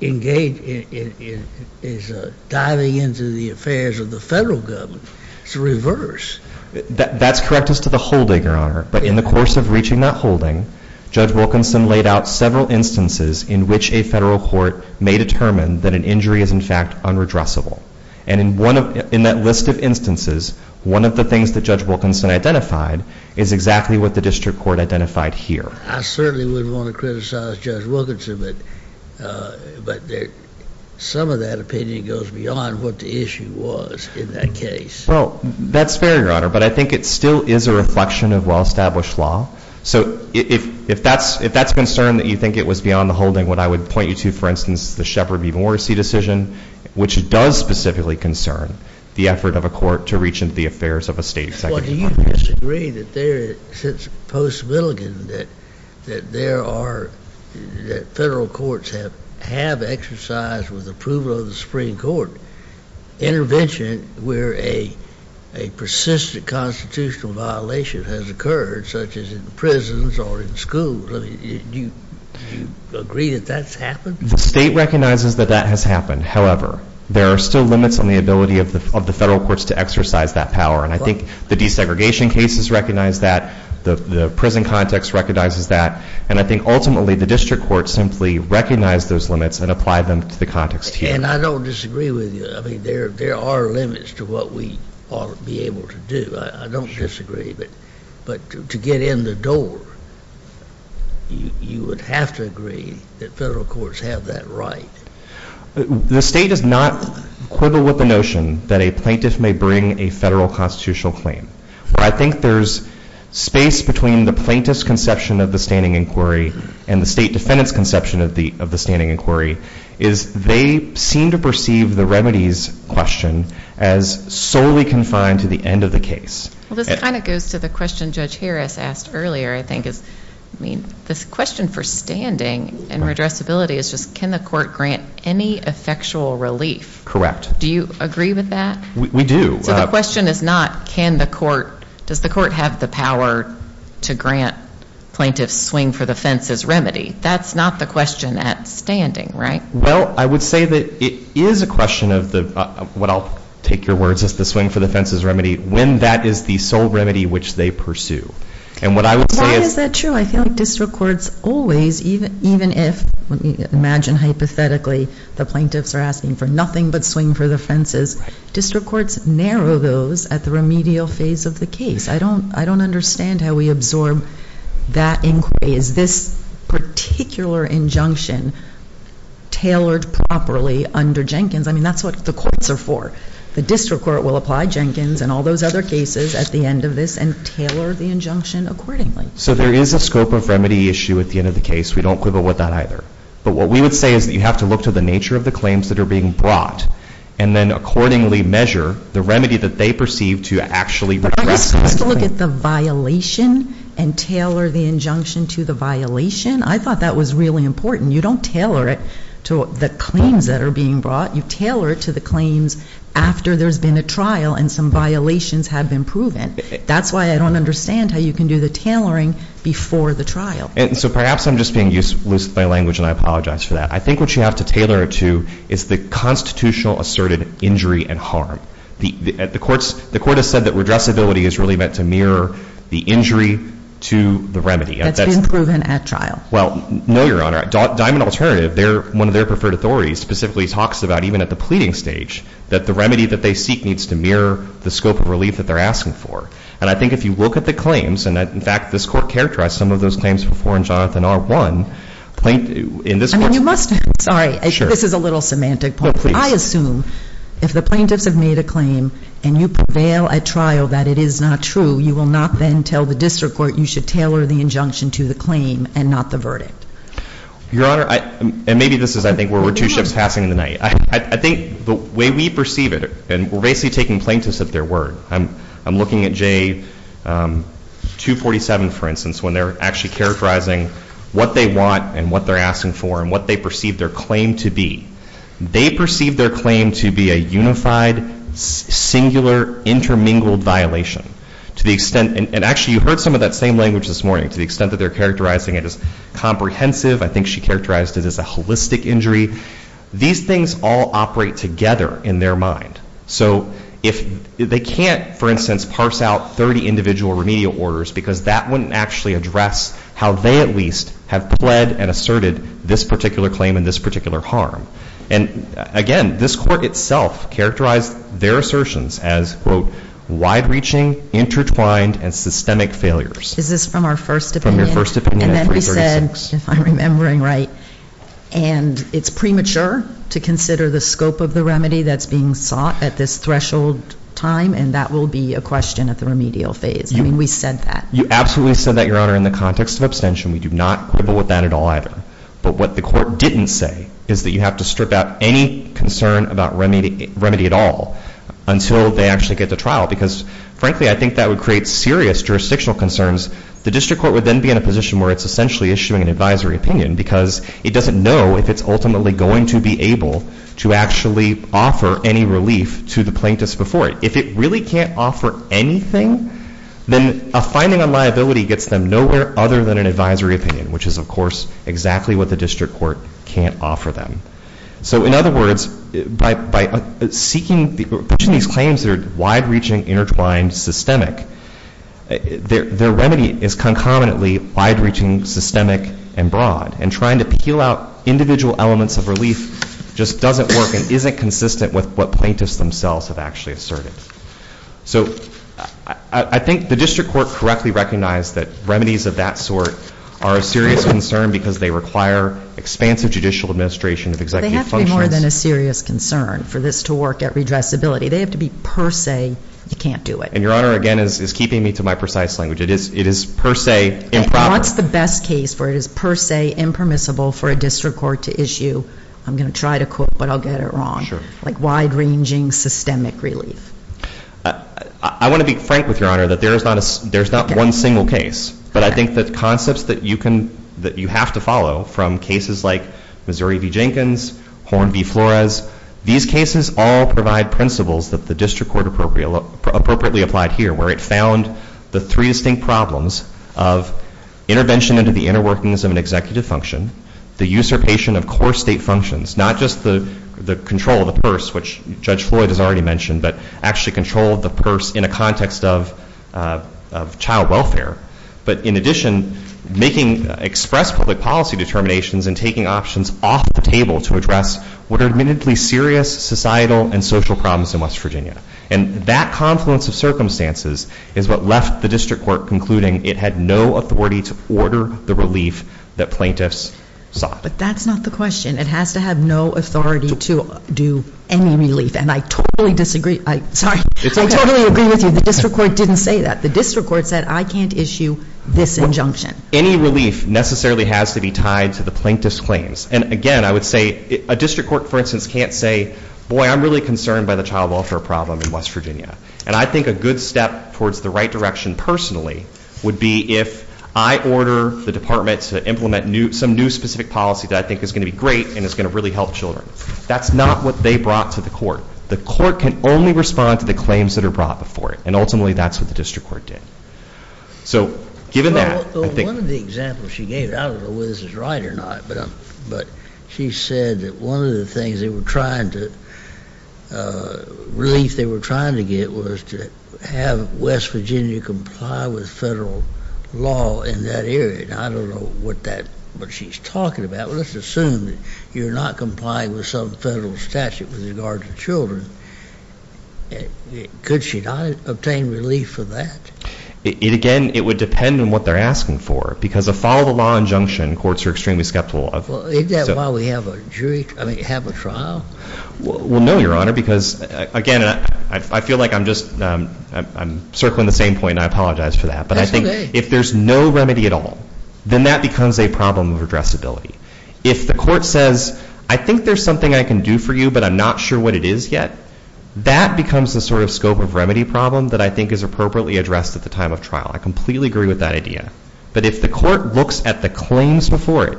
engaged in is diving into the affairs of the Federal Government. It's the reverse. That's correct as to the holding, Your Honor. But in the course of reaching that holding, Judge Wilkinson laid out several instances in which a Federal Court may determine that an injury is, in fact, unredressable. And in that list of instances, one of the things that Judge Wilkinson identified is exactly what the District Court identified here. I certainly wouldn't want to criticize Judge Wilkinson, but some of that opinion goes beyond what the issue was in that case. Well, that's fair, Your Honor. But I think it still is a reflection of well-established law. So if that's a concern that you think it was beyond the holding, what I would point you to, for instance, the Shepard v. Morrissey decision, which does specifically concern the effort of a court to reach into the affairs of a State Executive Department. Well, do you disagree that there is a sense of post-Milligan that there are, that Federal Courts have exercised with approval of the Supreme Court intervention where a persistent constitutional violation has occurred, such as in prisons or in schools? Do you agree that that's happened? The State recognizes that that has happened. However, there are still limits on the ability of the Federal Courts to exercise that power. And I think the desegregation cases recognize that. The prison context recognizes that. And I think, ultimately, the District Court simply recognized those limits and applied them to the context here. And I don't disagree with you. I mean, there are limits to what we ought to be able to do. I don't disagree. But to get in the door, you would have to agree that Federal Courts have that right. The State does not quibble with the notion that a plaintiff may bring a Federal constitutional claim. I think there's space between the plaintiff's conception of the standing inquiry and the State defendant's conception of the standing inquiry, is they seem to perceive the remedies question as solely confined to the end of the case. Well, this kind of goes to the question Judge Harris asked earlier, I think, is, I mean, this question for standing and redressability is just, can the Court grant any effectual relief? Correct. Do you agree with that? We do. So the question is not, can the Court, does the Court have the power to grant plaintiffs swing for the fence as remedy? That's not the question at standing, right? Well, I would say that it is a question of the, what I'll take your words as the swing for the fence as remedy, when that is the sole remedy which they pursue. And what I would say is... Why is that true? I feel like District Courts always, even if, imagine hypothetically, the plaintiffs are asking for nothing but swing for the fences, District Courts narrow those at the remedial phase of the case. I don't, I don't understand how we absorb that inquiry. Is this particular injunction tailored properly under Jenkins? I mean, that's what the Courts are for. The District Court will apply Jenkins and all those other cases at the end of this and tailor the injunction accordingly. So there is a scope of remedy issue at the end of the case. We don't quibble with that either. But what we would say is that you have to look to the nature of the claims that are being brought and then accordingly measure the remedy that they perceive to actually redress that. Let's look at the violation and tailor the injunction to the violation. I thought that was really important. You don't tailor it to the claims that are being brought. You tailor it to the claims after there's been a trial and some violations have been proven. That's why I don't understand how you can do the tailoring before the trial. And so perhaps I'm just being useless with my language and I apologize for that. I think what you have to tailor it to is the constitutional asserted injury and harm. The Courts, the remedy is really meant to mirror the injury to the remedy. That's been proven at trial. Well, no, Your Honor. Diamond Alternative, one of their preferred authorities, specifically talks about even at the pleading stage that the remedy that they seek needs to mirror the scope of relief that they're asking for. And I think if you look at the claims, and in fact this Court characterized some of those claims before in Jonathan R. 1. I mean you must, sorry, this is a little semantic point. I assume if the plaintiffs have made a claim and you prevail at trial that it is not true, you will not then tell the District Court you should tailor the injunction to the claim and not the verdict. Your Honor, and maybe this is I think where we're two shifts passing in the night. I think the way we perceive it, and we're basically taking plaintiffs at their word. I'm looking at J247, for instance, when they're actually characterizing what they want and what they're asking for and what they perceive their claim to be. They perceive their claim to be a unified singular intermingled violation to the extent, and actually you heard some of that same language this morning, to the extent that they're characterizing it as comprehensive. I think she characterized it as a holistic injury. These things all operate together in their mind. So if they can't, for instance, parse out 30 individual remedial orders because that wouldn't actually address how they at least have pled and asserted this particular claim and this particular harm. And again, this Court itself characterized their assertions as, quote, wide-reaching, intertwined, and systemic failures. Is this from our first opinion? From your first opinion at 336. And then we said, if I'm remembering right, and it's premature to consider the scope of the remedy that's being sought at this threshold time, and that will be a question at the remedial phase. I mean, we said that. You absolutely said that, Your Honor, in the context of abstention. We do not quibble with that at all either. But what the Court didn't say is that you have to strip out any concern about remedy at all until they actually get to trial because, frankly, I think that would create serious jurisdictional concerns. The District Court would then be in a position where it's essentially issuing an advisory opinion because it doesn't know if it's ultimately going to be able to actually offer any relief to the plaintiffs before it. If it really can't offer anything, then a finding on liability gets them nowhere other than an advisory opinion, which is, of course, exactly what the District Court can't offer them. So in other words, by seeking these claims that are wide-reaching, intertwined, systemic, their remedy is concomitantly wide-reaching, systemic, and broad. And trying to peel out individual elements of relief just doesn't work and isn't consistent with what plaintiffs themselves have actually asserted. So I think the District Court correctly recognized that remedies of that sort are a serious concern because they require expansive judicial administration of executive functions. They have to be more than a serious concern for this to work at redressability. They have to be per se, you can't do it. And Your Honor, again, is keeping me to my precise language. It is per se improper. What's the best case where it is per se impermissible for a District Court to issue, I'm going to try to quote, but I'll get it wrong, like wide-ranging systemic relief? I want to be frank with Your Honor that there's not one single case. But I think the concepts that you have to follow from cases like Missouri v. Jenkins, Horn v. Flores, these cases all provide principles that the District Court appropriately applied here, where it found the three distinct problems of intervention into the inner workings of an executive function, the usurpation of core state functions, not just the control of the purse, which Judge Floyd has already mentioned, but actually control of the purse in a context of child welfare. But in addition, making express public policy determinations and taking options off the table to address what are admittedly serious societal and social problems in West Virginia. And that confluence of circumstances is what left the District Court concluding it had no authority to order the relief that plaintiffs sought. But that's not the question. It has to have no authority to do any relief. And I totally disagree, sorry, I totally agree with you. The District Court didn't say that. The District Court said I can't issue this injunction. Any relief necessarily has to be tied to the plaintiff's claims. And again, I would say a District Court, for instance, can't say, boy, I'm really concerned by the child welfare problem in West Virginia. And I think a good step towards the right direction personally would be if I order the department to implement some new specific policy that I think is going to be great and is going to really help children. That's not what they brought to the court. The court can only respond to the claims that are brought before it. And ultimately, that's what the District Court did. So given that, I think... Well, one of the examples she gave, I don't know whether this is right or not, but she said that one of the things they were trying to, relief they were trying to get was to have West Virginia comply with federal law in that area. And I don't know what she's talking about. Let's assume you're not complying with some federal statute with regard to children. Could she not obtain relief for that? Again, it would depend on what they're asking for. Because a follow-the-law injunction, courts are extremely skeptical of. Well, isn't that why we have a jury, I mean, have a trial? Well, no, Your Honor, because again, I feel like I'm just circling the same point. I apologize for that. But I think if there's no remedy at all, then that becomes a problem of addressability. If the court says, I think there's something I can do for you, but I'm not sure what it is yet, that becomes the sort of scope of remedy problem that I think is appropriately addressed at the time of trial. I completely agree with that idea. But if the court looks at the claims before it,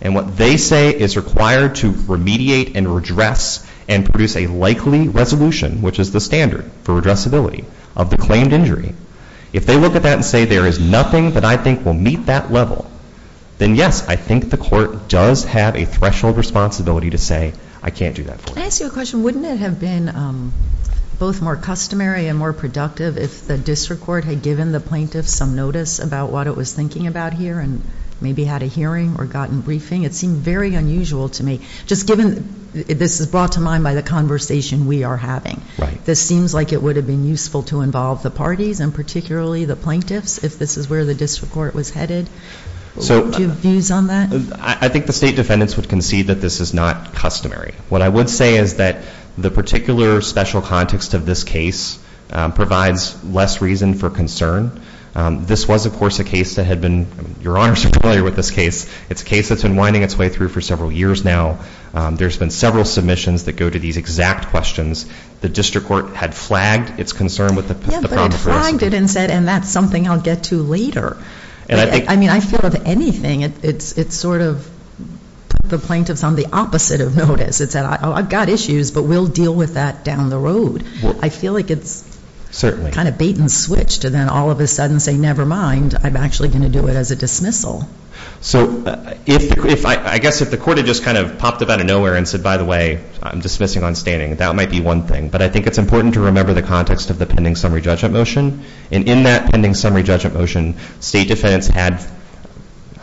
and what they say is required to remediate and redress and produce a likely resolution, which is the standard for addressability of the claimed injury, if they look at that and say, there is nothing that I think will meet that level, then yes, I think the court does have a threshold responsibility to say, I can't do that for you. Can I ask you a question? Wouldn't it have been both more customary and more productive if the district court had given the plaintiff some notice about what it was thinking about here and maybe had a hearing or gotten briefing? It seemed very unusual to me. Just given, this is brought to mind by the conversation we are having, this seems like it would have been useful to involve the parties and particularly the plaintiffs if this is where the district court was headed. Do you have views on that? I think the state defendants would concede that this is not customary. What I would say is that the particular special context of this case provides less reason for concern. This was, of course, a case that had been, Your Honor is familiar with this case. It's a case that's been winding its way through for several years now. There's been several submissions that go to these exact questions. The district court had flagged its concern with the problem first. Yeah, but it flagged it and said, and that's something I'll get to later. I mean, I feel if anything, it's sort of put the plaintiffs on the opposite of notice. It said, I've got issues, but we'll deal with that down the road. I feel like it's kind of bait and switch to then all of a sudden say, never mind, I'm actually going to do it as a dismissal. So I guess if the court had just kind of popped up out of nowhere and said, by the way, I'm dismissing on standing, that might be one thing. But I think it's important to remember the context of the pending summary judgment motion. And in that pending summary judgment motion, state defendants had,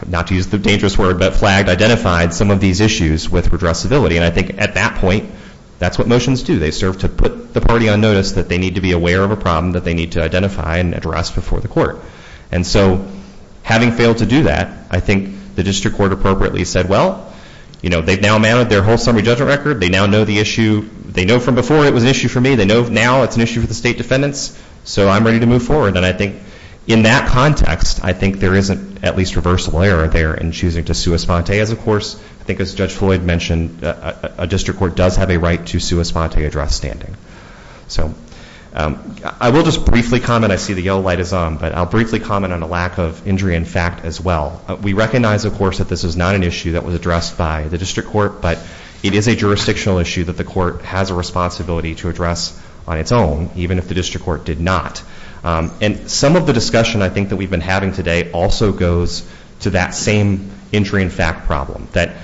not to use the dangerous word, but flagged, identified some of these issues with redressability. And I think at that point, that's what motions do. They serve to put the party on notice that they need to be aware of a problem that they need to identify and address before the court. And so having failed to do that, I think the district court appropriately said, well, they've now mounted their whole summary judgment record. They now know the issue. They know from before it was an issue for me. They know now it's an issue for the state defendants. So I'm ready to move forward. And I think in that context, I think there isn't at least reversible error there in choosing to sue a sponte as a course. I think as Judge Floyd mentioned, a district court does have a right to sue a sponte address standing. So I will just briefly comment. I see the yellow light is on, but I'll briefly comment on a lack of injury in fact as well. We recognize, of course, that this is not an issue that was addressed by the district court, but it is a jurisdictional issue that the court has a responsibility to address on its own, even if the district court did not. And some of the discussion I think that we've been having today also goes to that same injury in fact problem, that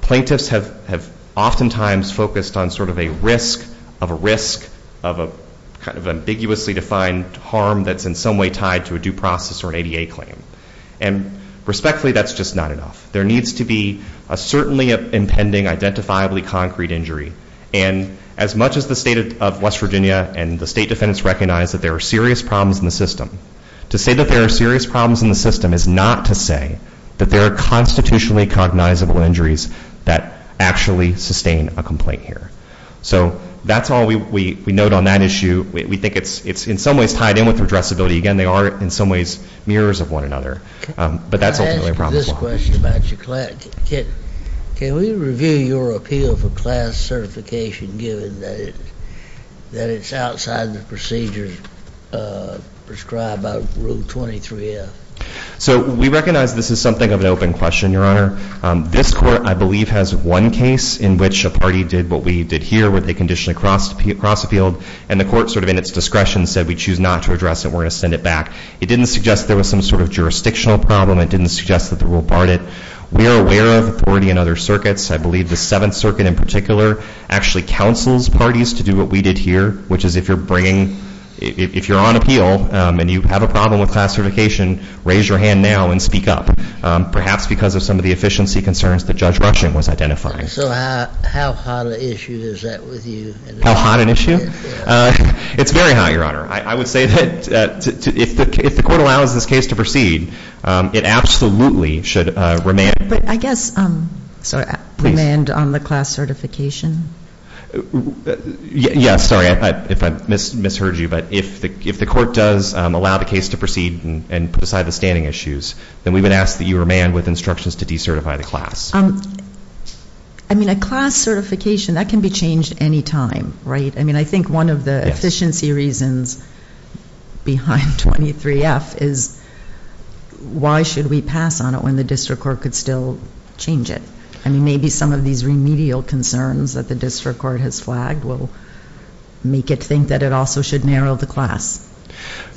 plaintiffs have oftentimes focused on sort of a risk of a risk of a kind of ambiguously defined harm that's in some way tied to a due process or an ADA claim. And respectfully, that's just not enough. There needs to be a certainly impending identifiably concrete injury. And as much as the state of West Virginia and the state defendants recognize that there are serious problems in the system, to say that there are serious problems in the system is not to say that there are constitutionally cognizable injuries that actually sustain a complaint here. So that's all we note on that issue. We think it's in some ways tied in with redressability. Again, they are in some ways mirrors of one another. But that's ultimately a problem as well. Can I ask you this question about your class? Can we review your appeal for class certification given that it's outside the procedures prescribed by Rule 23F? So we recognize this is something of an open question, Your Honor. This court, I believe, has one case in which a party did what we did here, where they conditionally cross appealed. And the court sort of in its discretion said, we choose not to address it. We're going to send it back. It didn't suggest there was some sort of jurisdictional problem. It didn't suggest that the rule barred it. We are aware of authority in other circuits. I believe the Seventh Circuit in particular actually counsels parties to do what we did here, which is if you're bringing, if you're on appeal and you have a problem with class certification, raise your hand now and speak up, perhaps because of some of the efficiency concerns that Judge Rushing was identifying. So how hot an issue is that with you? How hot an issue? It's very hot, Your Honor. I would say that if the court allows this case to proceed, it absolutely should remand. But I guess, sorry, remand on the class certification? Yeah, sorry if I misheard you. But if the court does allow the case to proceed and put aside the standing issues, then we would ask that you remand with instructions to decertify the class. I mean, a class certification, that can be changed any time, right? I mean, I think one of the efficiency reasons behind 23F is why should we pass on it when the district court could still change it? I mean, maybe some of these remedial concerns that the district court has flagged will make it think that it also should narrow the class.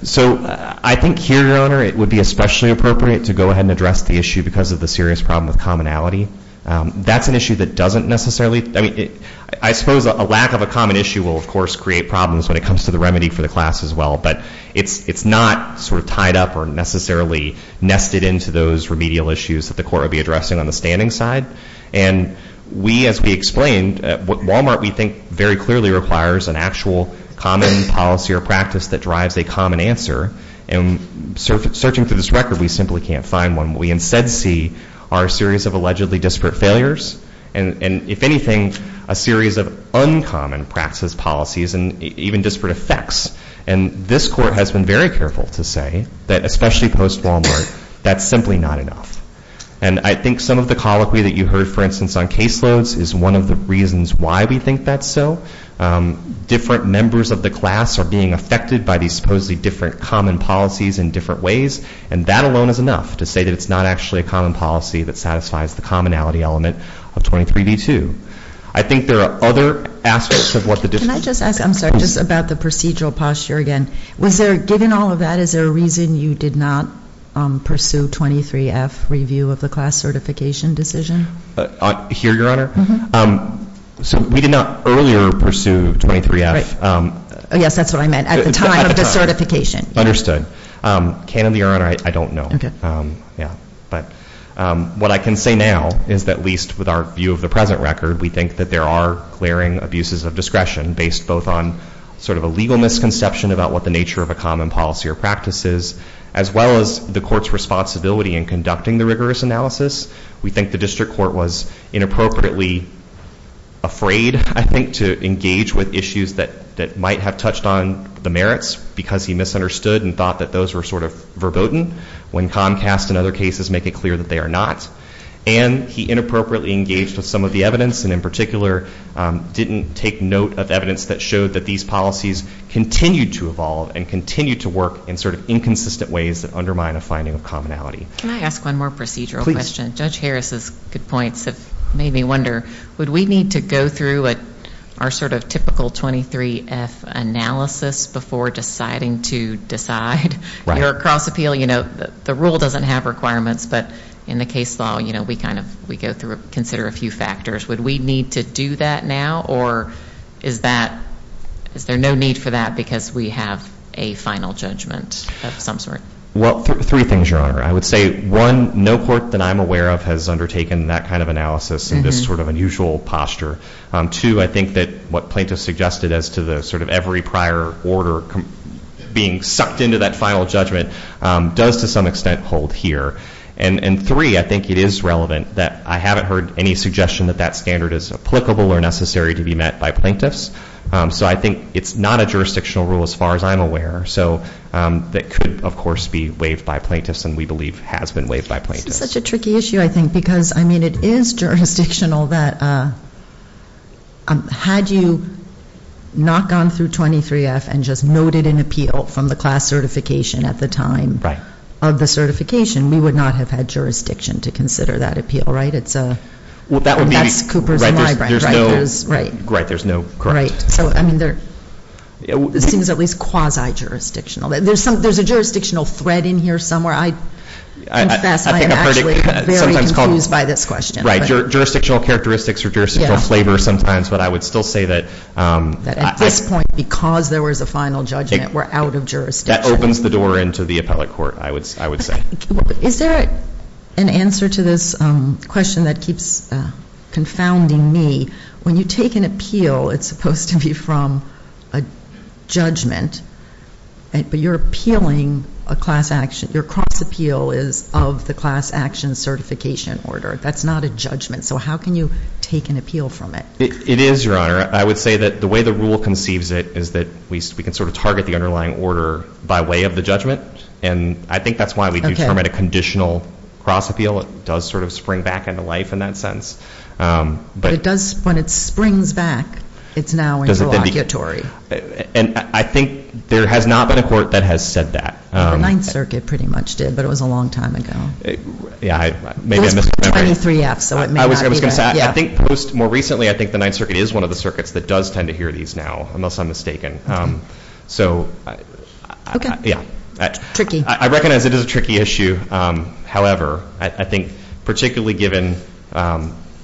So I think here, Your Honor, it would be especially appropriate to go ahead and address the issue because of the serious problem with commonality. That's an issue that doesn't necessarily, I mean, I suppose a lack of a common issue will, of course, create problems when it comes to the remedy for the class as well. But it's not sort of tied up or necessarily nested into those remedial issues that the court will be addressing on the standing side. And we, as we explained, Walmart, we think, very clearly requires an actual common policy or practice that drives a common answer. And searching through this record, we simply can't find one. We instead see our series of allegedly disparate failures and, if anything, a series of uncommon practices, policies, and even disparate effects. And this court has been very careful to say that, especially post-Walmart, that's simply not enough. And I think some of the colloquy that you heard, for instance, on caseloads is one of the reasons why we think that's so. Different members of the class are being affected by these supposedly different common policies in different ways. And that alone is enough to say that it's not actually a common policy that satisfies the commonality element of 23d2. I think there are other aspects of what the district court... Can I just ask, I'm sorry, just about the procedural posture again. Was there, given all of that, is there a reason you did not pursue 23F review of the class certification decision? Here, Your Honor? Mm-hmm. So, we did not earlier pursue 23F. Right. Yes, that's what I meant. At the time of the certification. Understood. Candidly, Your Honor, I don't know. Yeah. But what I can say now is that, at least with our view of the present record, we think that there are glaring abuses of discretion based both on sort of a legal misconception about what the nature of a common policy or practice is, as well as the court's responsibility in conducting the rigorous analysis. We think the district court was inappropriately afraid, I think, to engage with issues that might have touched on the merits because he misunderstood and thought that those were sort of verboten, when Comcast and other cases make it clear that they are not. And he inappropriately engaged with some of the evidence and, in particular, didn't take note of evidence that showed that these policies continued to evolve and continued to work in sort of inconsistent ways that undermine a finding of commonality. Can I ask one more procedural question? Judge Harris's good points have made me wonder, would we need to go through our sort of typical 23F analysis before deciding to decide your cross-appeal? You know, the rule doesn't have requirements, but in the case law, you know, we kind of, we go through, consider a few factors. Would we need to do that now, or is that, is there no need for that because we have a final judgment of some sort? Well, three things, Your Honor. I would say, one, no court that I'm aware of has undertaken that kind of analysis in this sort of unusual posture. Two, I think that what plaintiffs suggested as to the sort of every prior order being sucked into that final judgment does to some extent hold here. And three, I think it is relevant that I haven't heard any suggestion that that standard is applicable or necessary to be met by plaintiffs. So I think it's not a jurisdictional rule, as far as I'm aware, so that could, of course, be waived by plaintiffs and we believe has been waived by plaintiffs. This is such a tricky issue, I think, because, I mean, it is jurisdictional that had you not gone through 23F and just noted an appeal from the class certification at the time. Right. Of the certification, we would not have had jurisdiction to consider that appeal, right? It's a, that's Cooper's and Libran's, right? There's no, right, there's no, correct. Right. So, I mean, there seems at least quasi-jurisdictional. There's some, there's a jurisdictional thread in here somewhere. I confess, I am actually very confused by this question. Right, jurisdictional characteristics or jurisdictional flavor sometimes, but I would still say that I... That at this point, because there was a final judgment, we're out of jurisdiction. That opens the door into the appellate court, I would say. Is there an answer to this question that keeps confounding me? When you take an appeal, it's supposed to be from a judgment, but you're appealing a class action, your cross appeal is of the class action certification order. That's not a judgment, so how can you take an appeal from it? It is, Your Honor. I would say that the way the rule conceives it is that we can sort of target the underlying order by way of the judgment, and I think that's why we do term it a conditional cross appeal. It does sort of spring back into life in that sense. But it does, when it springs back, it's now interlocutory. And I think there has not been a court that has said that. The Ninth Circuit pretty much did, but it was a long time ago. Yeah, maybe I missed the memory. Post 23F, so it may not be there. I was going to say, I think post, more recently, I think the Ninth Circuit is one of the circuits that does tend to hear these now, unless I'm mistaken. Okay. Yeah. Tricky. I recognize it is a tricky issue. However, I think particularly given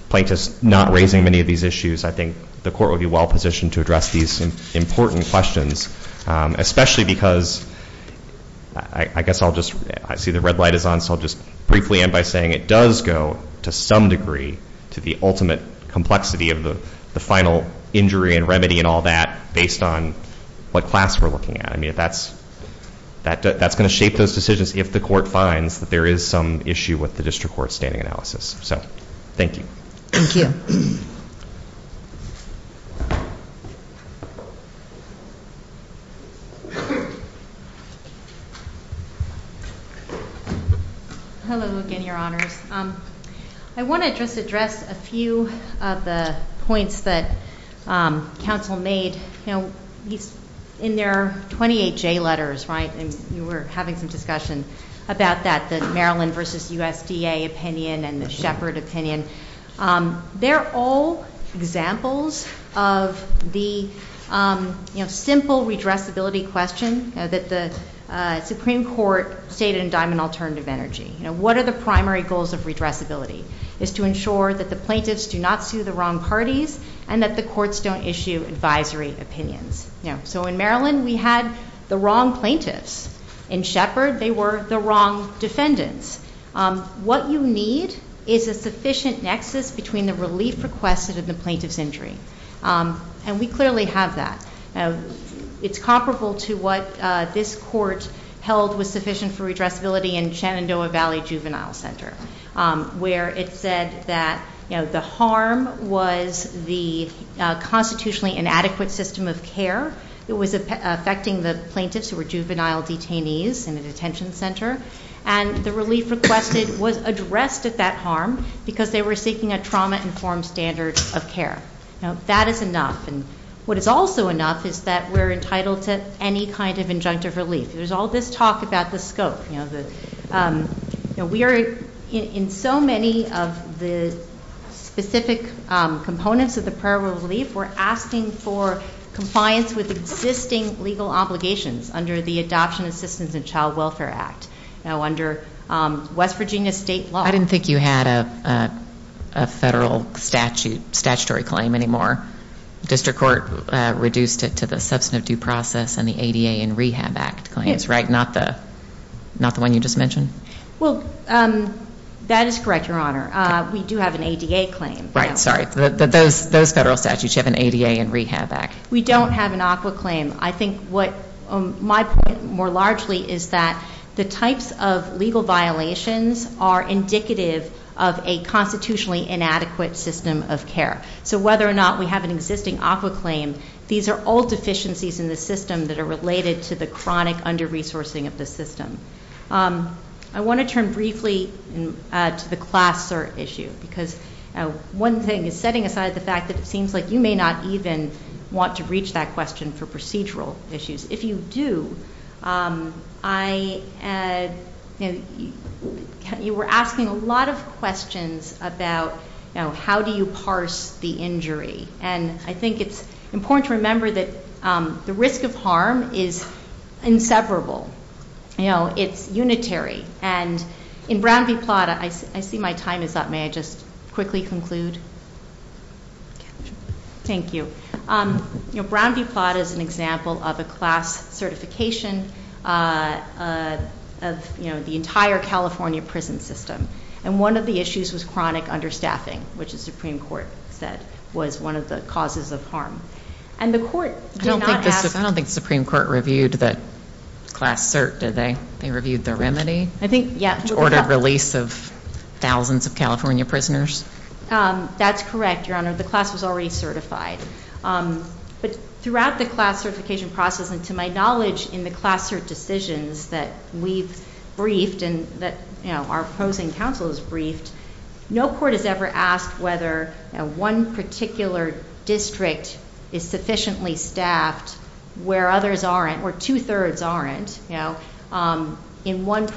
plaintiffs not raising many of these issues, I think the court would be well positioned to address these important questions, especially because, I guess I'll just, I see the red light is on, so I'll just briefly end by saying it does go to some degree to the ultimate complexity of the final injury and remedy and all that, based on what class we're looking at. I mean, that's going to shape those decisions if the court finds that there is some issue with the district court standing analysis. So thank you. Thank you. Hello again, Your Honors. I want to just address a few of the points that counsel made, you know, in their 28J letters, right? And you were having some discussion about that, the Maryland versus USDA opinion and the Shepard opinion. They're all examples of the, you know, simple redressability question that the Supreme Court stated in Diamond Alternative Energy. You know, what are the primary goals of redressability? Is to ensure that the plaintiffs do not sue the wrong parties and that the courts don't issue advisory opinions. So in Maryland, we had the wrong plaintiffs. In Shepard, they were the wrong defendants. What you need is a sufficient nexus between the relief requested and the plaintiff's injury. And we clearly have that. It's comparable to what this court held was sufficient for redressability in Shenandoah Valley Juvenile Center, where it said that, you know, the harm was the constitutionally inadequate system of care that was affecting the plaintiffs who were juvenile detainees in a detention center. And the relief requested was addressed at that harm because they were seeking a trauma-informed standard of care. That is enough. And what is also enough is that we're entitled to any kind of injunctive relief. There's all this talk about the scope. We are in so many of the specific components of the prior relief, we're asking for compliance with existing legal obligations under the Adoption Assistance and Child Welfare Act. Now, under West Virginia state law- I didn't think you had a federal statutory claim anymore. District Court reduced it to the Substantive Due Process and the ADA and Rehab Act claims, right? Not the one you just mentioned? Well, that is correct, Your Honor. We do have an ADA claim. Right. Sorry. Those federal statutes, you have an ADA and Rehab Act. We don't have an ACWA claim. I think what my point more largely is that the types of legal violations are indicative of a constitutionally inadequate system of care. So whether or not we have an existing ACWA claim, these are all deficiencies in the system that are related to the chronic under-resourcing of the system. I want to turn briefly to the class cert issue because one thing is setting aside the fact that it seems like you may not even want to reach that question for procedural issues. If you do, you were asking a lot of questions about how do you parse the injury. And I think it's important to remember that the risk of harm is inseparable. It's unitary. And in Brown v. Plata, I see my time is up. May I just quickly conclude? Thank you. Brown v. Plata is an example of a class certification of the entire California prison system. And one of the issues was chronic understaffing, which the Supreme Court said was one of the causes of harm. And the court did not ask... I don't think the Supreme Court reviewed the class cert, did they? They reviewed the remedy? I think, yeah. Ordered release of thousands of California prisoners? That's correct, Your Honor. The class was already certified. But throughout the class certification process, and to my knowledge in the class cert decisions that we've briefed and that our opposing counsel has briefed, no court has ever asked whether one particular district is sufficiently staffed where others aren't, where two-thirds aren't. In one... It's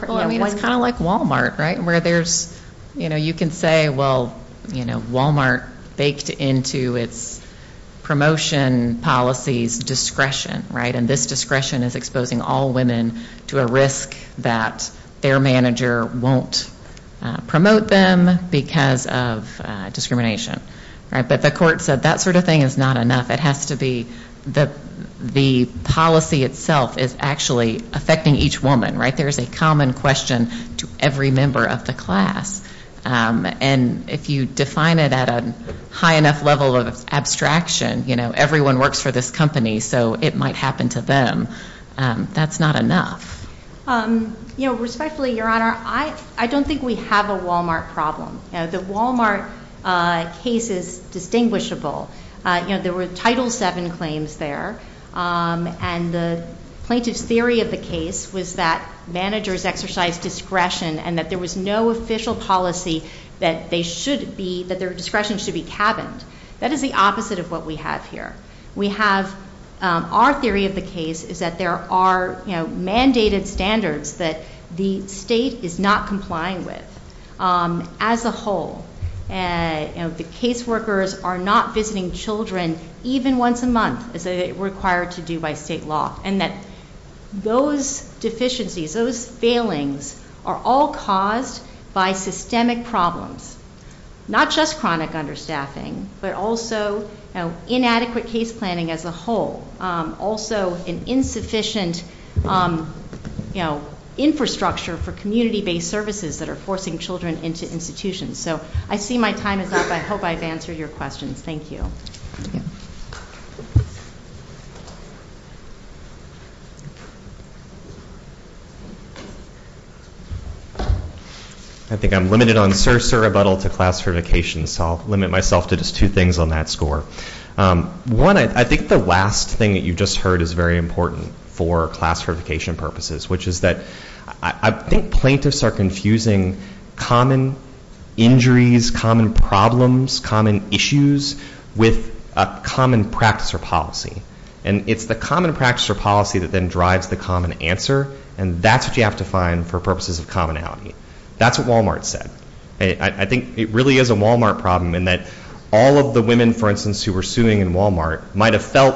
kind of like Walmart, right? Where there's, you know, you can say, well, you know, Walmart baked into its promotion policies discretion, right? And this discretion is exposing all women to a risk that their manager won't promote them because of discrimination, right? But the court said that sort of thing is not enough. It has to be... The policy itself is actually affecting each woman, right? There's a common question to every member of the class. And if you define it at a high enough level of abstraction, you know, everyone works for this company, so it might happen to them. That's not enough. You know, respectfully, Your Honor, I don't think we have a Walmart problem. The Walmart case is distinguishable. You know, there were Title VII claims there. And the plaintiff's theory of the case was that managers exercise discretion and that there was no official policy that they should be... That their discretion should be cabined. That is the opposite of what we have here. We have... Our theory of the case is that there are, you know, mandated standards that the state is not complying with as a whole. You know, the caseworkers are not visiting children even once a month as they're required to do by state law. And that those deficiencies, those failings are all caused by systemic problems. Not just chronic understaffing, but also inadequate case planning as a whole. Also an insufficient, you know, infrastructure for community-based services that are forcing children into institutions. So I see my time is up. I hope I've answered your questions. Thank you. I think I'm limited on certs or rebuttal to class certification, so I'll limit myself to just two things on that score. One, I think the last thing that you just heard is very important for class certification purposes, which is that I think plaintiffs are confusing common injuries, common problems, common issues, with a common practice or policy. And it's the common practice or policy that then drives the common answer. And that's what you have to find for purposes of commonality. That's what Wal-Mart said. I think it really is a Wal-Mart problem in that all of the women, for instance, who were suing in Wal-Mart might have felt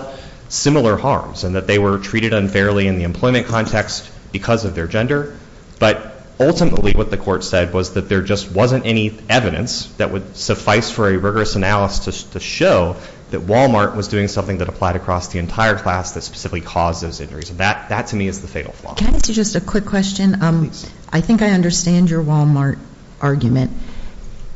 similar harms and that they were treated unfairly in the employment context because of their gender. But ultimately what the court said was that there just wasn't any evidence that would suffice for a rigorous analysis to show that Wal-Mart was doing something that applied across the entire class that specifically caused those injuries. That to me is the fatal flaw. Can I ask you just a quick question? I think I understand your Wal-Mart argument.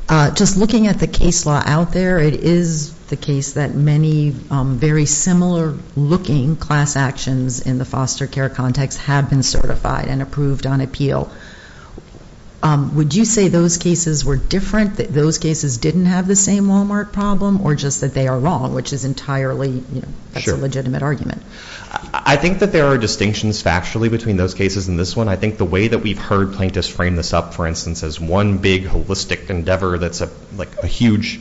Just looking at the case law out there, it is the case that many very similar-looking class actions in the foster care context have been certified and approved on appeal. Would you say those cases were different, that those cases didn't have the same Wal-Mart problem, or just that they are wrong, which is entirely a legitimate argument? I think that there are distinctions factually between those cases and this one. I think the way that we've heard plaintiffs frame this up, for instance, as one big holistic endeavor that's a huge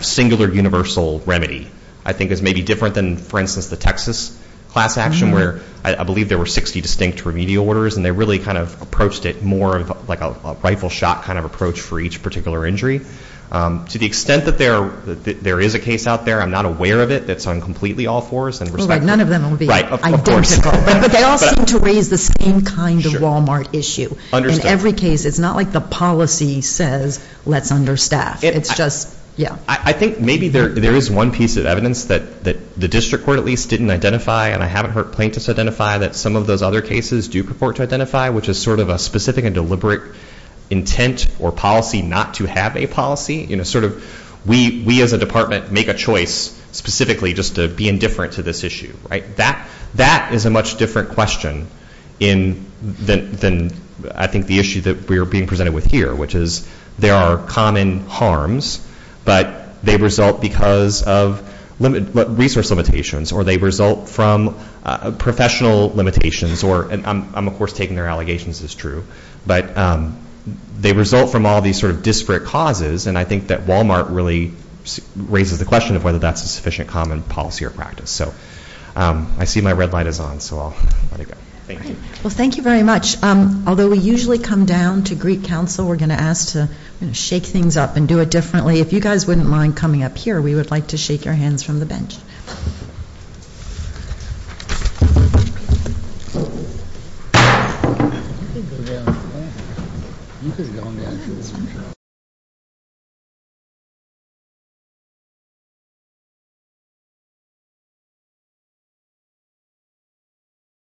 singular universal remedy, I think is maybe different than, for instance, a class action where I believe there were 60 distinct remedial orders and they really kind of approached it more like a rifle shot kind of approach for each particular injury. To the extent that there is a case out there, I'm not aware of it that's on completely all fours. None of them will be identical, but they all seem to raise the same kind of Wal-Mart issue. In every case, it's not like the policy says, let's understaff, it's just, yeah. I think maybe there is one piece of evidence that the district court at least didn't identify, and I haven't heard plaintiffs identify that some of those other cases do purport to identify, which is sort of a specific and deliberate intent or policy not to have a policy. We as a department make a choice specifically just to be indifferent to this issue. That is a much different question than I think the issue that we are being presented with here, which is there are common harms, but they result because of resource limitations, or they result from professional limitations, or I'm of course taking their allegations as true. But they result from all these sort of disparate causes, and I think that Wal-Mart really raises the question of whether that's a sufficient common policy or practice. So I see my red light is on, so I'll let it go. Thank you. Well, thank you very much. Although we usually come down to Greek Council, we're going to ask to shake things up and do it differently. If you guys wouldn't mind coming up here, we would like to shake your hands from the bench.